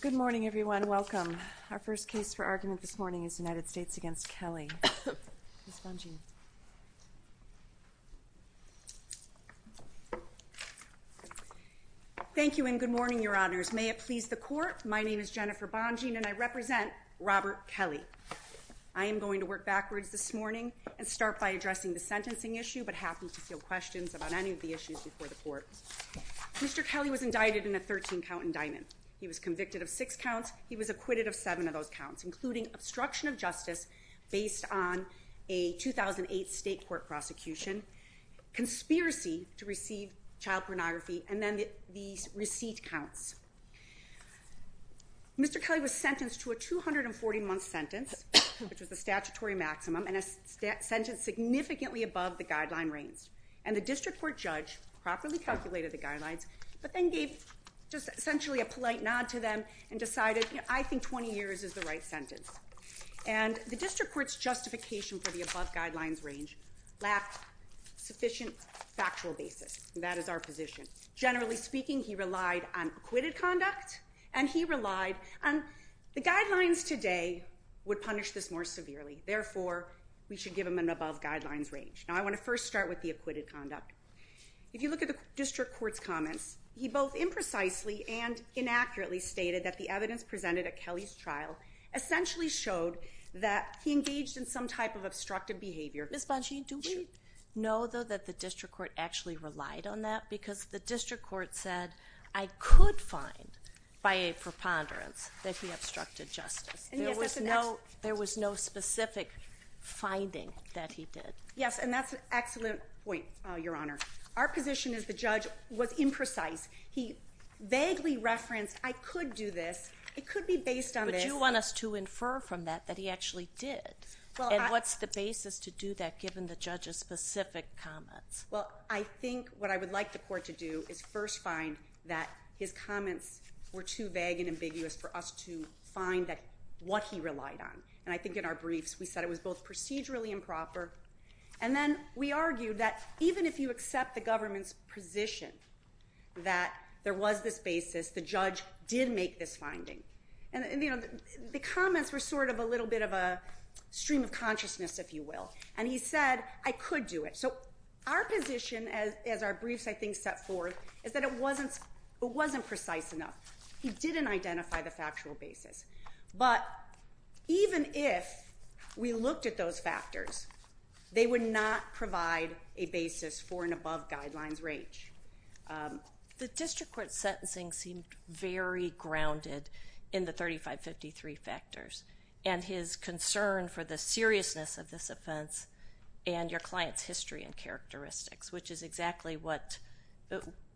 Good morning, everyone. Welcome. Our first case for argument this morning is United States v. Kelly. Thank you and good morning, Your Honors. May it please the Court, my name is Jennifer Bonjean and I represent Robert Kelly. I am going to work backwards this morning and start by addressing the sentencing issue, but happy to field questions about any of the issues before the Court. Mr. Kelly was indicted in a 13-count indictment. He was convicted of six counts. He was acquitted of seven of those counts, including obstruction of justice based on a 2008 state court prosecution, conspiracy to receive child pornography, and then the receipt counts. Mr. Kelly was sentenced to a 240-month sentence, which was the statutory maximum, and a sentence significantly above the guideline range. And the district court judge properly calculated the guidelines, but then gave just essentially a polite nod to them and decided, you know, I think 20 years is the right sentence. And the district court's justification for the above guidelines range lacked sufficient factual basis, and that is our position. Generally speaking, he relied on acquitted conduct and he relied on the guidelines today would punish this more severely. Therefore, we should give him an above guidelines range. Now I want to first start with the acquitted conduct. If you look at the district court's comments, he both imprecisely and inaccurately stated that the evidence presented at Kelly's trial essentially showed that he engaged in some type of obstructive behavior. Ms. Bongean, do we know, though, that the district court actually relied on that? Because the district court said, I could find by a preponderance that he obstructed justice. There was no specific finding that he did. Yes, and that's an excellent point, Your Honor. Our position is the judge was imprecise. He vaguely referenced, I could do this, it could be based on this. Would you want us to infer from that that he actually did? And what's the basis to do that given the judge's specific comments? Well, I think what I would like the court to do is first find that his comments were too vague and ambiguous for us to find what he relied on. And I think in our briefs we said it was both procedurally improper and then we argued that even if you accept the government's position that there was this basis, the judge did make this finding. And the comments were sort of a little bit of a stream of consciousness, if you will. And he said, I could do it. So our position as our briefs, I think, set forth is that it wasn't precise enough. He didn't identify the factual basis. But even if we looked at those factors, they would not provide a basis for an above guidelines range. The district court sentencing seemed very grounded in the 3553 factors and his concern for the seriousness of this offense and your client's history and characteristics, which is exactly what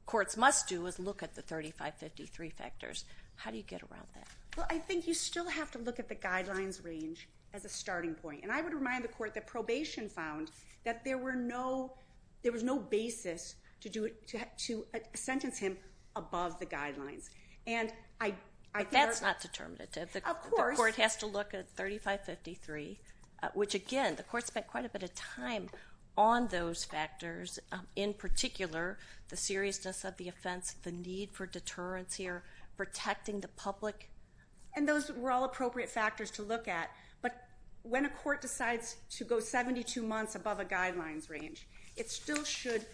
courts must do is look at the 3553 factors. How do you get around that? Well, I think you still have to look at the guidelines range as a starting point. And I would remind the court that probation found that there was no basis to sentence him above the guidelines. But that's not determinative. The court has to look at 3553, which again, the court spent quite a bit of time on those factors, in particular the seriousness of the offense, the need for deterrence here, protecting the public. And those were all appropriate factors to look at. But when a court decides to go 72 months above a guidelines range, it still should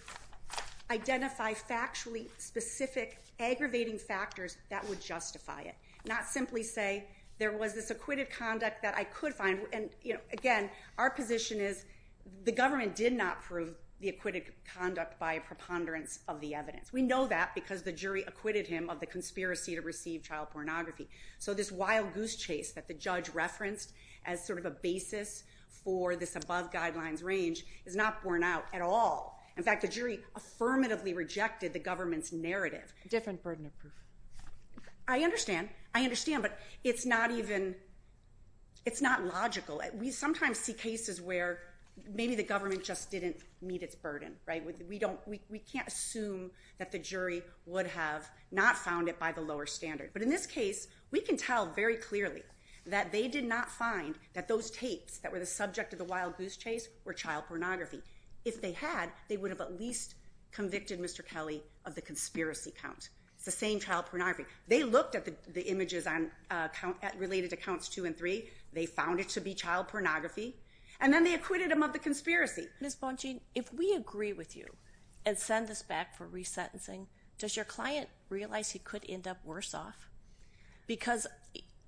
identify factually specific aggravating factors that would justify it, not simply say there was this acquitted conduct that I could find. And again, our position is the government did not prove the acquitted conduct by preponderance of the evidence. We know that because the jury acquitted him of the conspiracy to receive child pornography. So this wild goose chase that the judge referenced as sort of a basis for this above guidelines range is not borne out at all. In fact, the jury affirmatively rejected the government's narrative. Different burden of proof. I understand. I understand. But it's not logical. We sometimes see cases where maybe the government just didn't meet its burden. Right. We don't we can't assume that the jury would have not found it by the lower standard. But in this case, we can tell very clearly that they did not find that those tapes that were the subject of the wild goose chase were child pornography. If they had, they would have at least convicted Mr. Kelly of the conspiracy count. It's the same child pornography. They looked at the images on count related to counts two and three. They found it to be child pornography. And then they acquitted him of the conspiracy. Ms. Bongean, if we agree with you and send this back for resentencing, does your client realize he could end up worse off? Because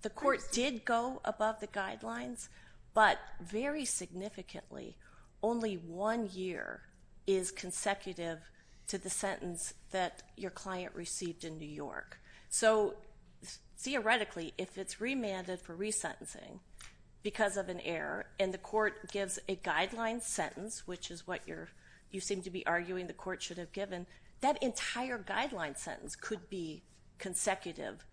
the court did go above the guidelines. But very significantly, only one year is consecutive to the sentence that your client received in New York. So theoretically, if it's remanded for resentencing because of an error and the court gives a guideline sentence, which is what you're you seem to be arguing the court should have given that entire guideline sentence could be consecutive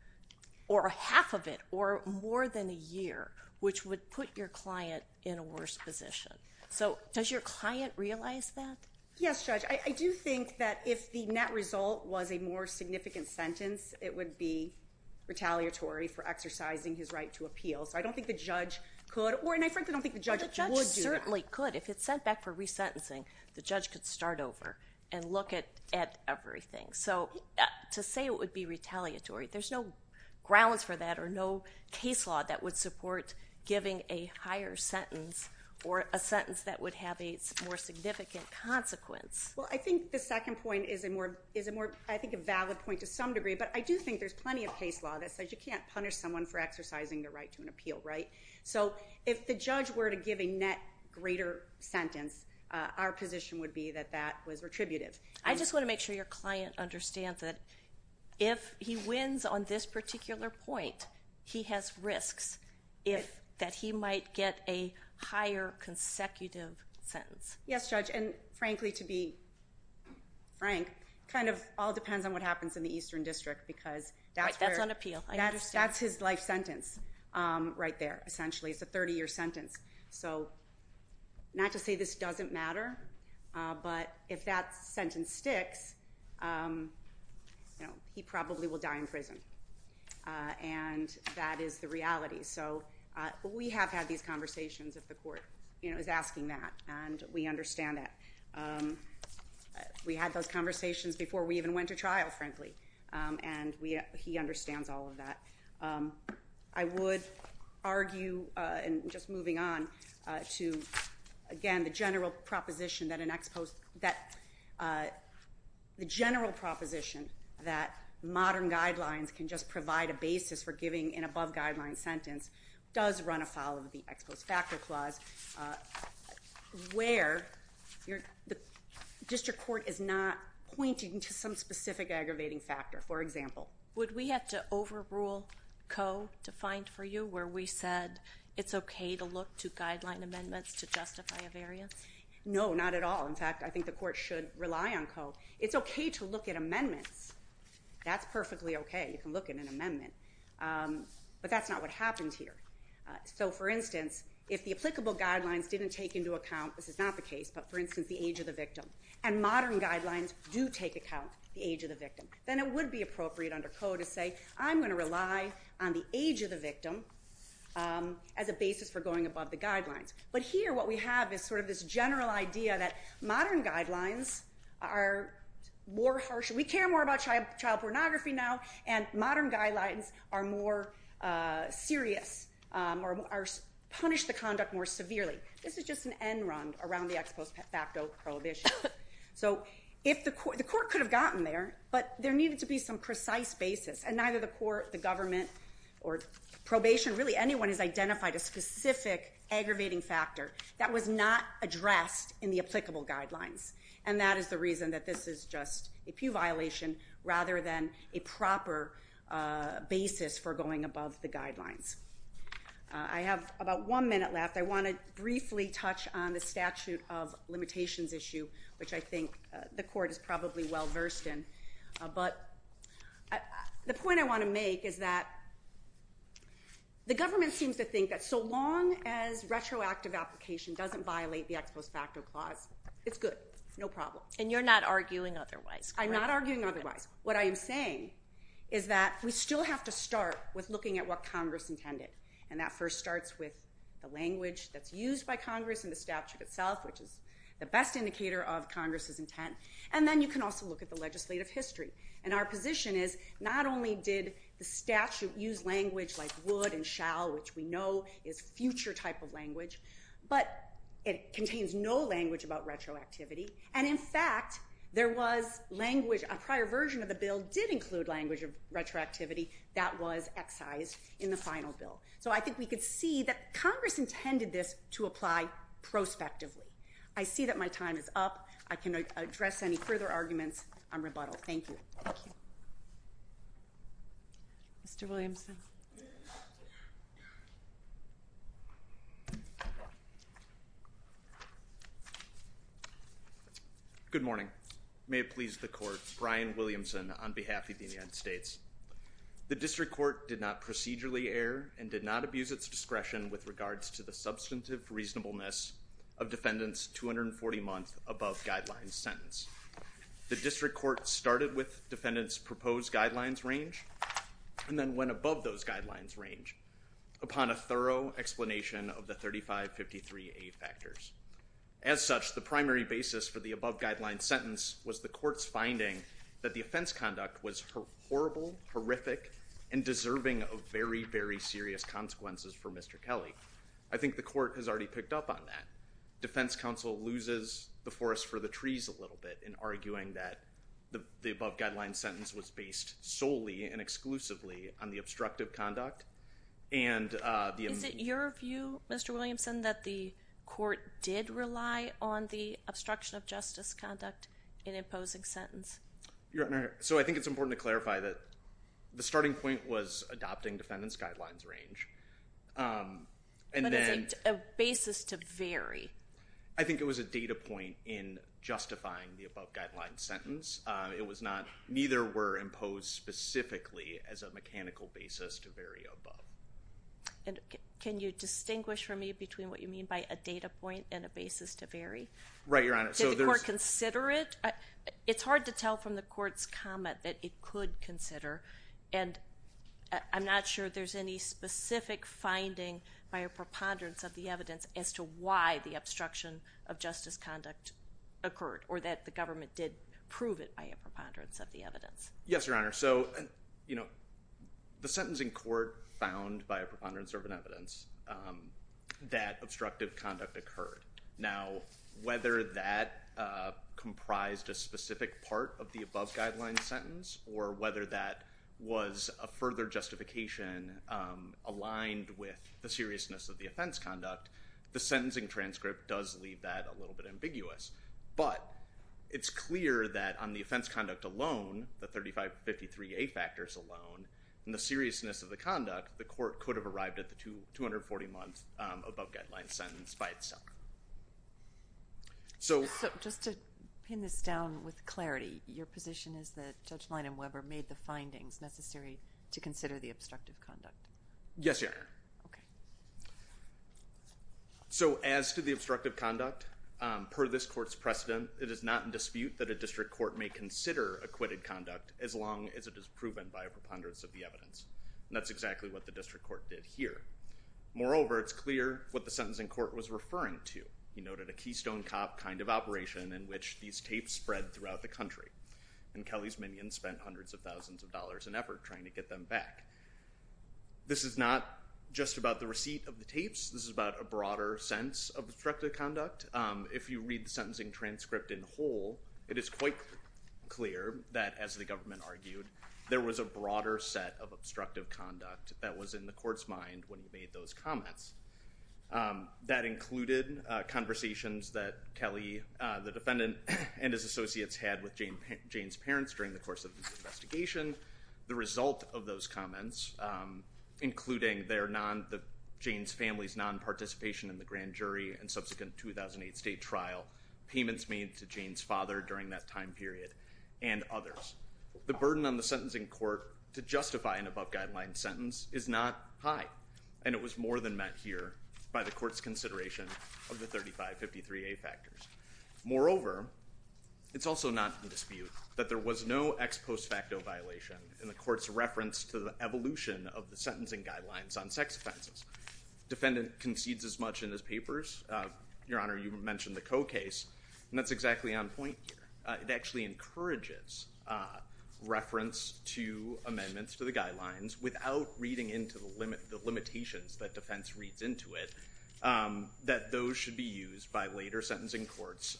or half of it or more than a year, which would put your client in a worse position. So does your client realize that? Yes, Judge. I do think that if the net result was a more significant sentence, it would be retaliatory for exercising his right to appeal. So I don't think the judge could or and I frankly don't think the judge would do that. The judge certainly could. If it's sent back for resentencing, the judge could start over and look at everything. So to say it would be retaliatory, there's no grounds for that or no case law that would support giving a higher sentence or a sentence that would have a more significant consequence. Well, I think the second point is a more is a more I think a valid point to some degree. But I do think there's plenty of case law that says you can't punish someone for exercising their right to an appeal. Right. So if the judge were to give a net greater sentence, our position would be that that was retributive. I just want to make sure your client understands that if he wins on this particular point, he has risks if that he might get a higher consecutive sentence. Yes, Judge. And frankly, to be frank, kind of all depends on what happens in the Eastern District because that's right. That's on appeal. That's that's his life sentence right there. Essentially, it's a 30 year sentence. So not to say this doesn't matter, but if that sentence sticks, he probably will die in prison. And that is the reality. So we have had these conversations of the court, you know, is asking that. And we understand that we had those conversations before we even went to trial, frankly. And we he understands all of that. I would argue. And just moving on to, again, the general proposition that an ex post that the general proposition that modern guidelines can just provide a basis for giving an above guideline sentence does run afoul of the ex post factor clause, where the district court is not pointing to some specific aggravating factor, for example. Would we have to overrule CO to find for you where we said it's OK to look to guideline amendments to justify a variance? No, not at all. In fact, I think the court should rely on CO. It's OK to look at amendments. That's perfectly OK. You can look at an amendment. But that's not what happens here. So, for instance, if the applicable guidelines didn't take into account, this is not the case, but for instance, the age of the victim and modern guidelines do take account the age of the victim, then it would be appropriate under CO to say, I'm going to rely on the age of the victim as a basis for going above the guidelines. But here what we have is sort of this general idea that modern guidelines are more harsh. We care more about child pornography now, and modern guidelines are more serious or punish the conduct more severely. This is just an end run around the ex post facto prohibition. So the court could have gotten there, but there needed to be some precise basis. And neither the court, the government, or probation, really anyone has identified a specific aggravating factor that was not addressed in the applicable guidelines. And that is the reason that this is just a pew violation rather than a proper basis for going above the guidelines. I have about one minute left. I want to briefly touch on the statute of limitations issue, which I think the court is probably well versed in. The point I want to make is that the government seems to think that so long as retroactive application doesn't violate the ex post facto clause, it's good, no problem. And you're not arguing otherwise. I'm not arguing otherwise. What I am saying is that we still have to start with looking at what Congress intended. And that first starts with the language that's used by Congress and the statute itself, which is the best indicator of Congress's intent. And then you can also look at the legislative history. And our position is not only did the statute use language like would and shall, which we know is future type of language, but it contains no language about retroactivity. And in fact, there was language, a prior version of the bill did include language of retroactivity that was excised in the final bill. So I think we could see that Congress intended this to apply prospectively. I see that my time is up. I can address any further arguments on rebuttal. Thank you. Thank you. Mr. Williamson. Good morning. May it please the court, Brian Williamson on behalf of the United States. The district court did not procedurally err and did not abuse its discretion with regards to the substantive reasonableness of the above guidelines sentence. The district court started with defendant's proposed guidelines range and then went above those guidelines range upon a thorough explanation of the 3553A factors. As such, the primary basis for the above guidelines sentence was the court's finding that the offense conduct was horrible, horrific, and deserving of very, very serious consequences for Mr. Kelly. I think the court has already picked up on that. The defense counsel loses the forest for the trees a little bit in arguing that the above guidelines sentence was based solely and exclusively on the obstructive conduct. Is it your view, Mr. Williamson, that the court did rely on the obstruction of justice conduct in imposing sentence? So I think it's important to clarify that the starting point was adopting defendant's guidelines range. But is it a basis to vary? I think it was a data point in justifying the above guidelines sentence. Neither were imposed specifically as a mechanical basis to vary above. Can you distinguish for me between what you mean by a data point and a basis to vary? Right, Your Honor. Did the court consider it? It's hard to tell from the court's comment that it could consider. And I'm not sure there's any specific finding by a preponderance of the evidence as to why the obstruction of justice conduct occurred or that the government did prove it by a preponderance of the evidence. Yes, Your Honor. So, you know, the sentence in court found by a preponderance of an evidence that obstructive conduct occurred. Now, whether that comprised a specific part of the above guidelines sentence or whether that was a further justification aligned with the seriousness of the offense conduct, the sentencing transcript does leave that a little bit ambiguous. But it's clear that on the offense conduct alone, the 3553A factors alone, and the seriousness of the conduct, the court could have arrived at the 240 months above guidelines sentence by itself. So just to pin this down with clarity, your position is that Judge Leinem Weber made the findings necessary to consider the obstructive conduct? Yes, Your Honor. Okay. So as to the obstructive conduct, per this court's precedent, it is not in dispute that a district court may consider acquitted conduct as long as it is proven by a preponderance of the evidence. And that's exactly what the district court did here. Moreover, it's clear what the sentencing court was referring to. He noted a keystone cop kind of operation in which these tapes spread throughout the country. And Kelly's Minions spent hundreds of thousands of dollars and effort trying to get them back. This is not just about the receipt of the tapes. This is about a broader sense of obstructive conduct. If you read the sentencing transcript in whole, it is quite clear that, as the government argued, there was a broader set of obstructive conduct that was in the court's mind when he made those comments. That included conversations that Kelly, the defendant, and his associates had with Jane's parents during the course of the investigation. The result of those comments, including Jane's family's nonparticipation in the grand jury and subsequent 2008 state trial, payments made to Jane's father during that time period, and others. The burden on the sentencing court to justify an above-guideline sentence is not high, and it was more than met here by the court's consideration of the 3553A factors. Moreover, it's also not in dispute that there was no ex post facto violation in the court's reference to the evolution of the sentencing guidelines on sex offenses. The defendant concedes as much in his papers. Your Honor, you mentioned the Coe case, and that's exactly on point here. It actually encourages reference to amendments to the guidelines without reading into the limitations that defense reads into it that those should be used by later sentencing courts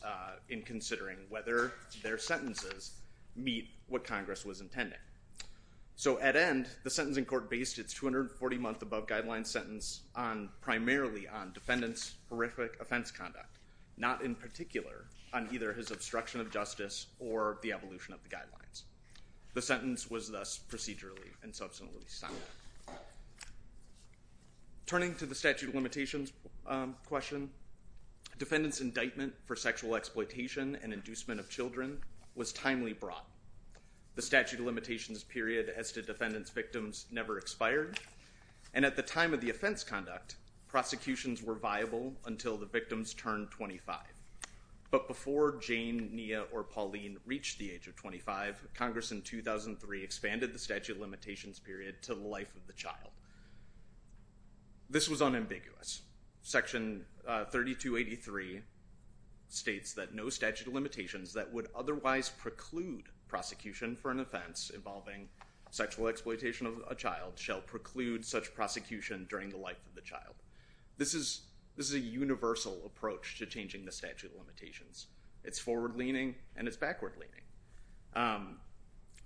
in considering whether their sentences meet what Congress was intending. So at end, the sentencing court based its 240-month above-guideline sentence primarily on defendant's horrific offense conduct, not in particular on either his obstruction of justice or the evolution of the guidelines. The sentence was thus procedurally and subsequently signed. Turning to the statute of limitations question, defendant's indictment for sexual exploitation and inducement of children was timely brought. The statute of limitations period as to defendant's victims never expired, and at the time of the offense conduct, prosecutions were viable until the victims turned 25. But before Jane, Nia, or Pauline reached the age of 25, Congress in 2003 expanded the statute of limitations period to the life of the child. This was unambiguous. Section 3283 states that no statute of limitations that would otherwise preclude prosecution for an offense involving sexual exploitation of a child shall preclude such prosecution during the life of the child. This is a universal approach to changing the statute of limitations. It's forward-leaning and it's backward-leaning.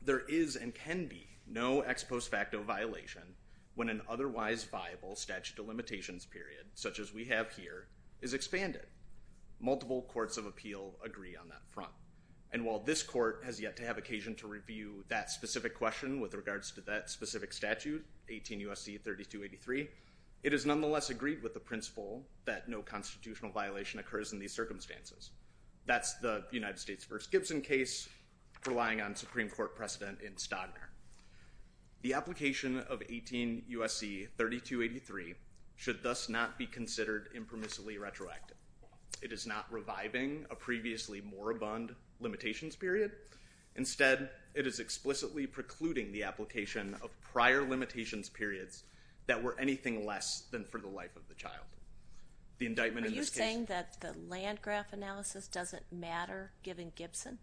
There is and can be no ex post facto violation when an otherwise viable statute of limitations period, such as we have here, is expanded. Multiple courts of appeal agree on that front. And while this court has yet to have occasion to review that specific question with regards to that specific statute, 18 U.S.C. 3283, it is nonetheless agreed with the principle that no constitutional violation occurs in these circumstances. That's the United States v. Gibson case relying on Supreme Court precedent in Stodner. The application of 18 U.S.C. 3283 should thus not be considered impermissibly retroactive. It is not reviving a previously more abundant limitations period. Instead, it is explicitly precluding the application of prior limitations periods that were anything less than for the life of the child. The indictment in this case... Are you saying that the land graph analysis doesn't matter given Gibson?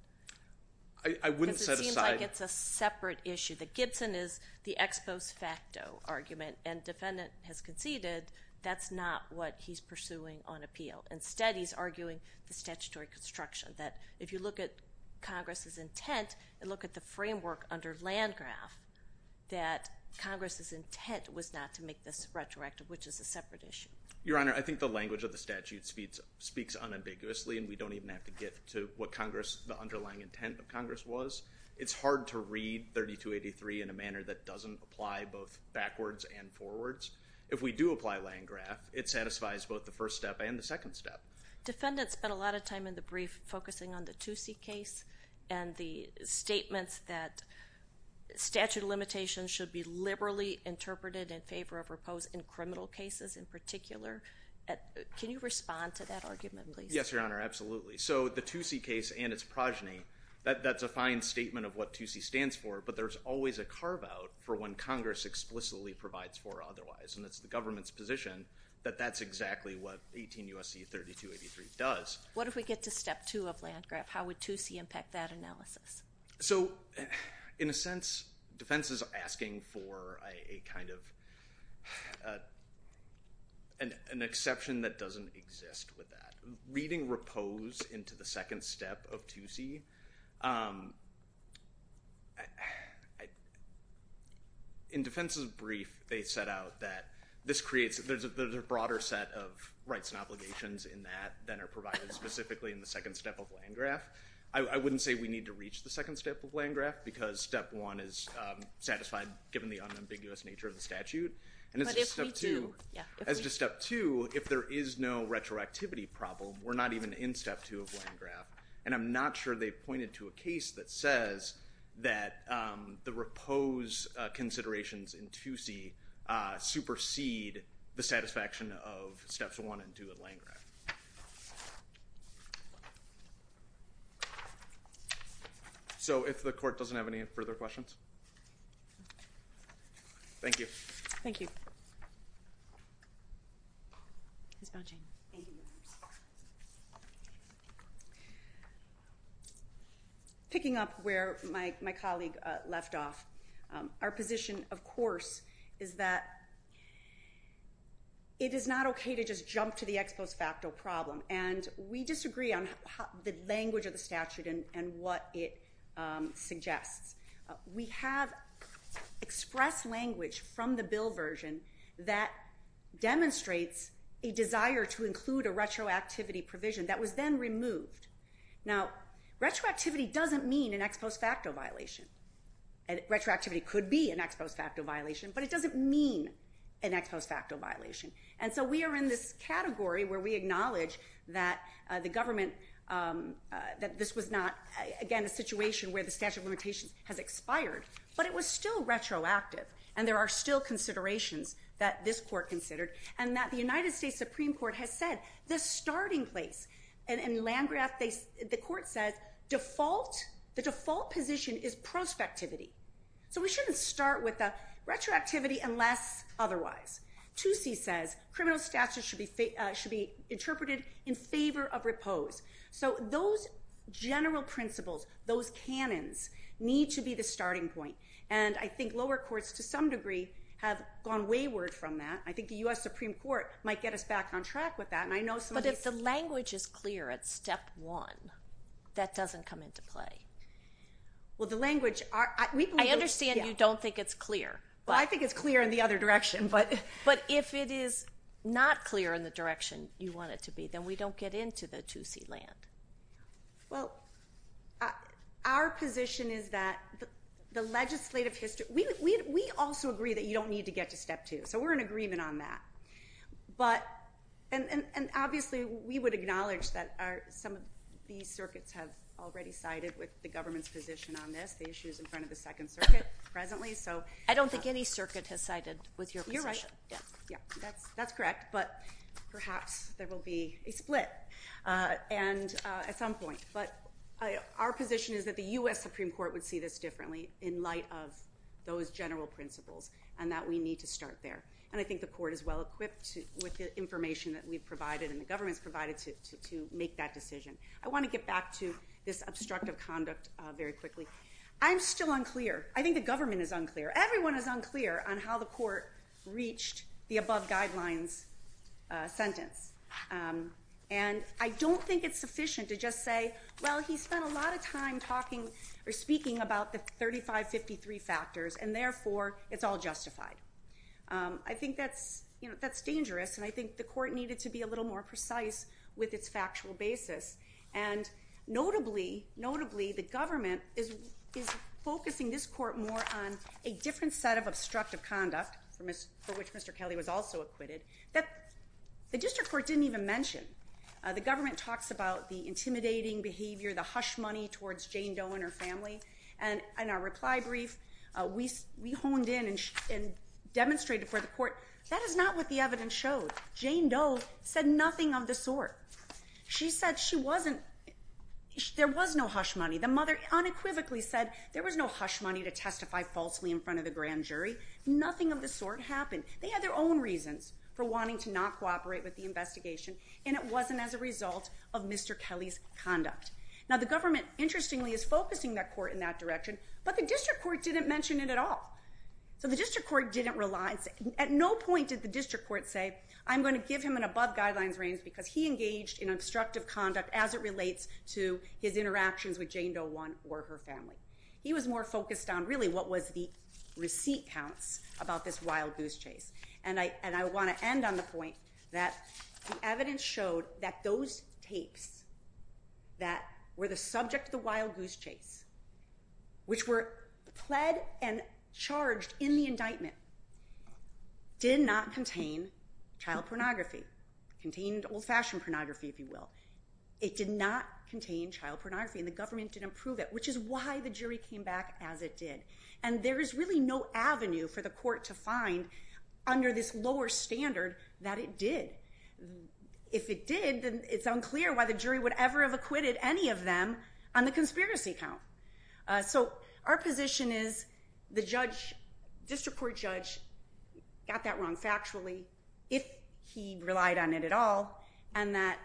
I wouldn't set aside... Because it seems like it's a separate issue. The Gibson is the ex post facto argument and defendant has conceded that's not what he's pursuing on appeal. Instead, he's arguing the statutory construction. That if you look at Congress's intent and look at the framework under land graph, that Congress's intent was not to make this retroactive, which is a separate issue. Your Honor, I think the language of the statute speaks unambiguously, and we don't even have to get to what the underlying intent of Congress was. It's hard to read 3283 in a manner that doesn't apply both backwards and forwards. If we do apply land graph, it satisfies both the first step and the second step. Defendant spent a lot of time in the brief focusing on the Toosie case and the statements that statute of limitations should be liberally interpreted in favor of repose in criminal cases in particular. Can you respond to that argument, please? Yes, Your Honor, absolutely. So the Toosie case and its progeny, that's a fine statement of what Toosie stands for, but there's always a carve-out for when Congress explicitly provides for otherwise, and it's the government's position that that's exactly what 18 U.S.C. 3283 does. What if we get to step two of land graph? How would Toosie impact that analysis? So in a sense, defense is asking for a kind of an exception that doesn't exist with that. Reading repose into the second step of Toosie, in defense's brief, they set out that there's a broader set of rights and obligations in that than are provided specifically in the second step of land graph. I wouldn't say we need to reach the second step of land graph because step one is satisfied given the unambiguous nature of the statute. But if we do. As to step two, if there is no retroactivity problem, we're not even in step two of land graph, and I'm not sure they've pointed to a case that says that the repose considerations in Toosie supersede the satisfaction of steps one and two of land graph. So if the court doesn't have any further questions. Thank you. Thank you. Picking up where my colleague left off, our position, of course, is that it is not okay to just jump to the ex post facto problem, and we disagree on the language of the statute and what it suggests. We have expressed language from the bill version that demonstrates a desire to include a retroactivity provision that was then removed. Now, retroactivity doesn't mean an ex post facto violation. Retroactivity could be an ex post facto violation, but it doesn't mean an ex post facto violation. And so we are in this category where we acknowledge that the government, that this was not, again, a situation where the statute of limitations has expired, but it was still retroactive, and there are still considerations that this court considered, and that the United States Supreme Court has said the starting place in land graph, the court says the default position is prospectivity. So we shouldn't start with a retroactivity unless otherwise. Toosie says criminal statute should be interpreted in favor of repose. So those general principles, those canons, need to be the starting point. And I think lower courts, to some degree, have gone wayward from that. I think the U.S. Supreme Court might get us back on track with that. But if the language is clear at step one, that doesn't come into play. I understand you don't think it's clear. Well, I think it's clear in the other direction. But if it is not clear in the direction you want it to be, then we don't get into the Toosie land. Well, our position is that the legislative history, we also agree that you don't need to get to step two. So we're in agreement on that. And obviously we would acknowledge that some of these circuits have already sided with the government's position on this. The issue is in front of the Second Circuit presently. I don't think any circuit has sided with your position. You're right. That's correct. But perhaps there will be a split at some point. But our position is that the U.S. Supreme Court would see this differently in light of those general principles and that we need to start there. And I think the court is well equipped with the information that we've provided and the government's provided to make that decision. I want to get back to this obstructive conduct very quickly. I'm still unclear. I think the government is unclear. Everyone is unclear on how the court reached the above guidelines sentence. And I don't think it's sufficient to just say, well, he spent a lot of time talking or speaking about the 3553 factors, and therefore it's all justified. I think that's dangerous, and I think the court needed to be a little more precise with its factual basis. Notably, the government is focusing this court more on a different set of obstructive conduct, for which Mr. Kelly was also acquitted, that the district court didn't even mention. The government talks about the intimidating behavior, the hush money towards Jane Doe and her family. In our reply brief, we honed in and demonstrated for the court, that is not what the evidence showed. Jane Doe said nothing of the sort. She said there was no hush money. The mother unequivocally said there was no hush money to testify falsely in front of the grand jury. Nothing of the sort happened. They had their own reasons for wanting to not cooperate with the investigation, and it wasn't as a result of Mr. Kelly's conduct. Now, the government, interestingly, is focusing that court in that direction, but the district court didn't mention it at all. So the district court didn't rely. At no point did the district court say, I'm going to give him an above guidelines range, because he engaged in obstructive conduct as it relates to his interactions with Jane Doe 1 or her family. He was more focused on, really, what was the receipt counts about this wild goose chase. And I want to end on the point that the evidence showed that those tapes that were the subject of the wild goose chase, which were pled and charged in the indictment, did not contain child pornography. It contained old-fashioned pornography, if you will. It did not contain child pornography, and the government didn't prove it, which is why the jury came back as it did. And there is really no avenue for the court to find, under this lower standard, that it did. If it did, then it's unclear why the jury would ever have acquitted any of them on the conspiracy count. So our position is the district court judge got that wrong factually, if he relied on it at all, and that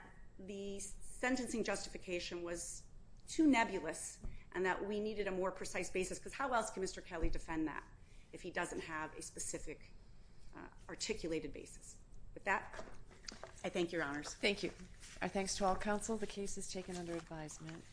the sentencing justification was too nebulous, and that we needed a more precise basis, because how else can Mr. Kelly defend that if he doesn't have a specific articulated basis? With that, I thank your honors. Thank you. Our thanks to all counsel. The case is taken under advisement.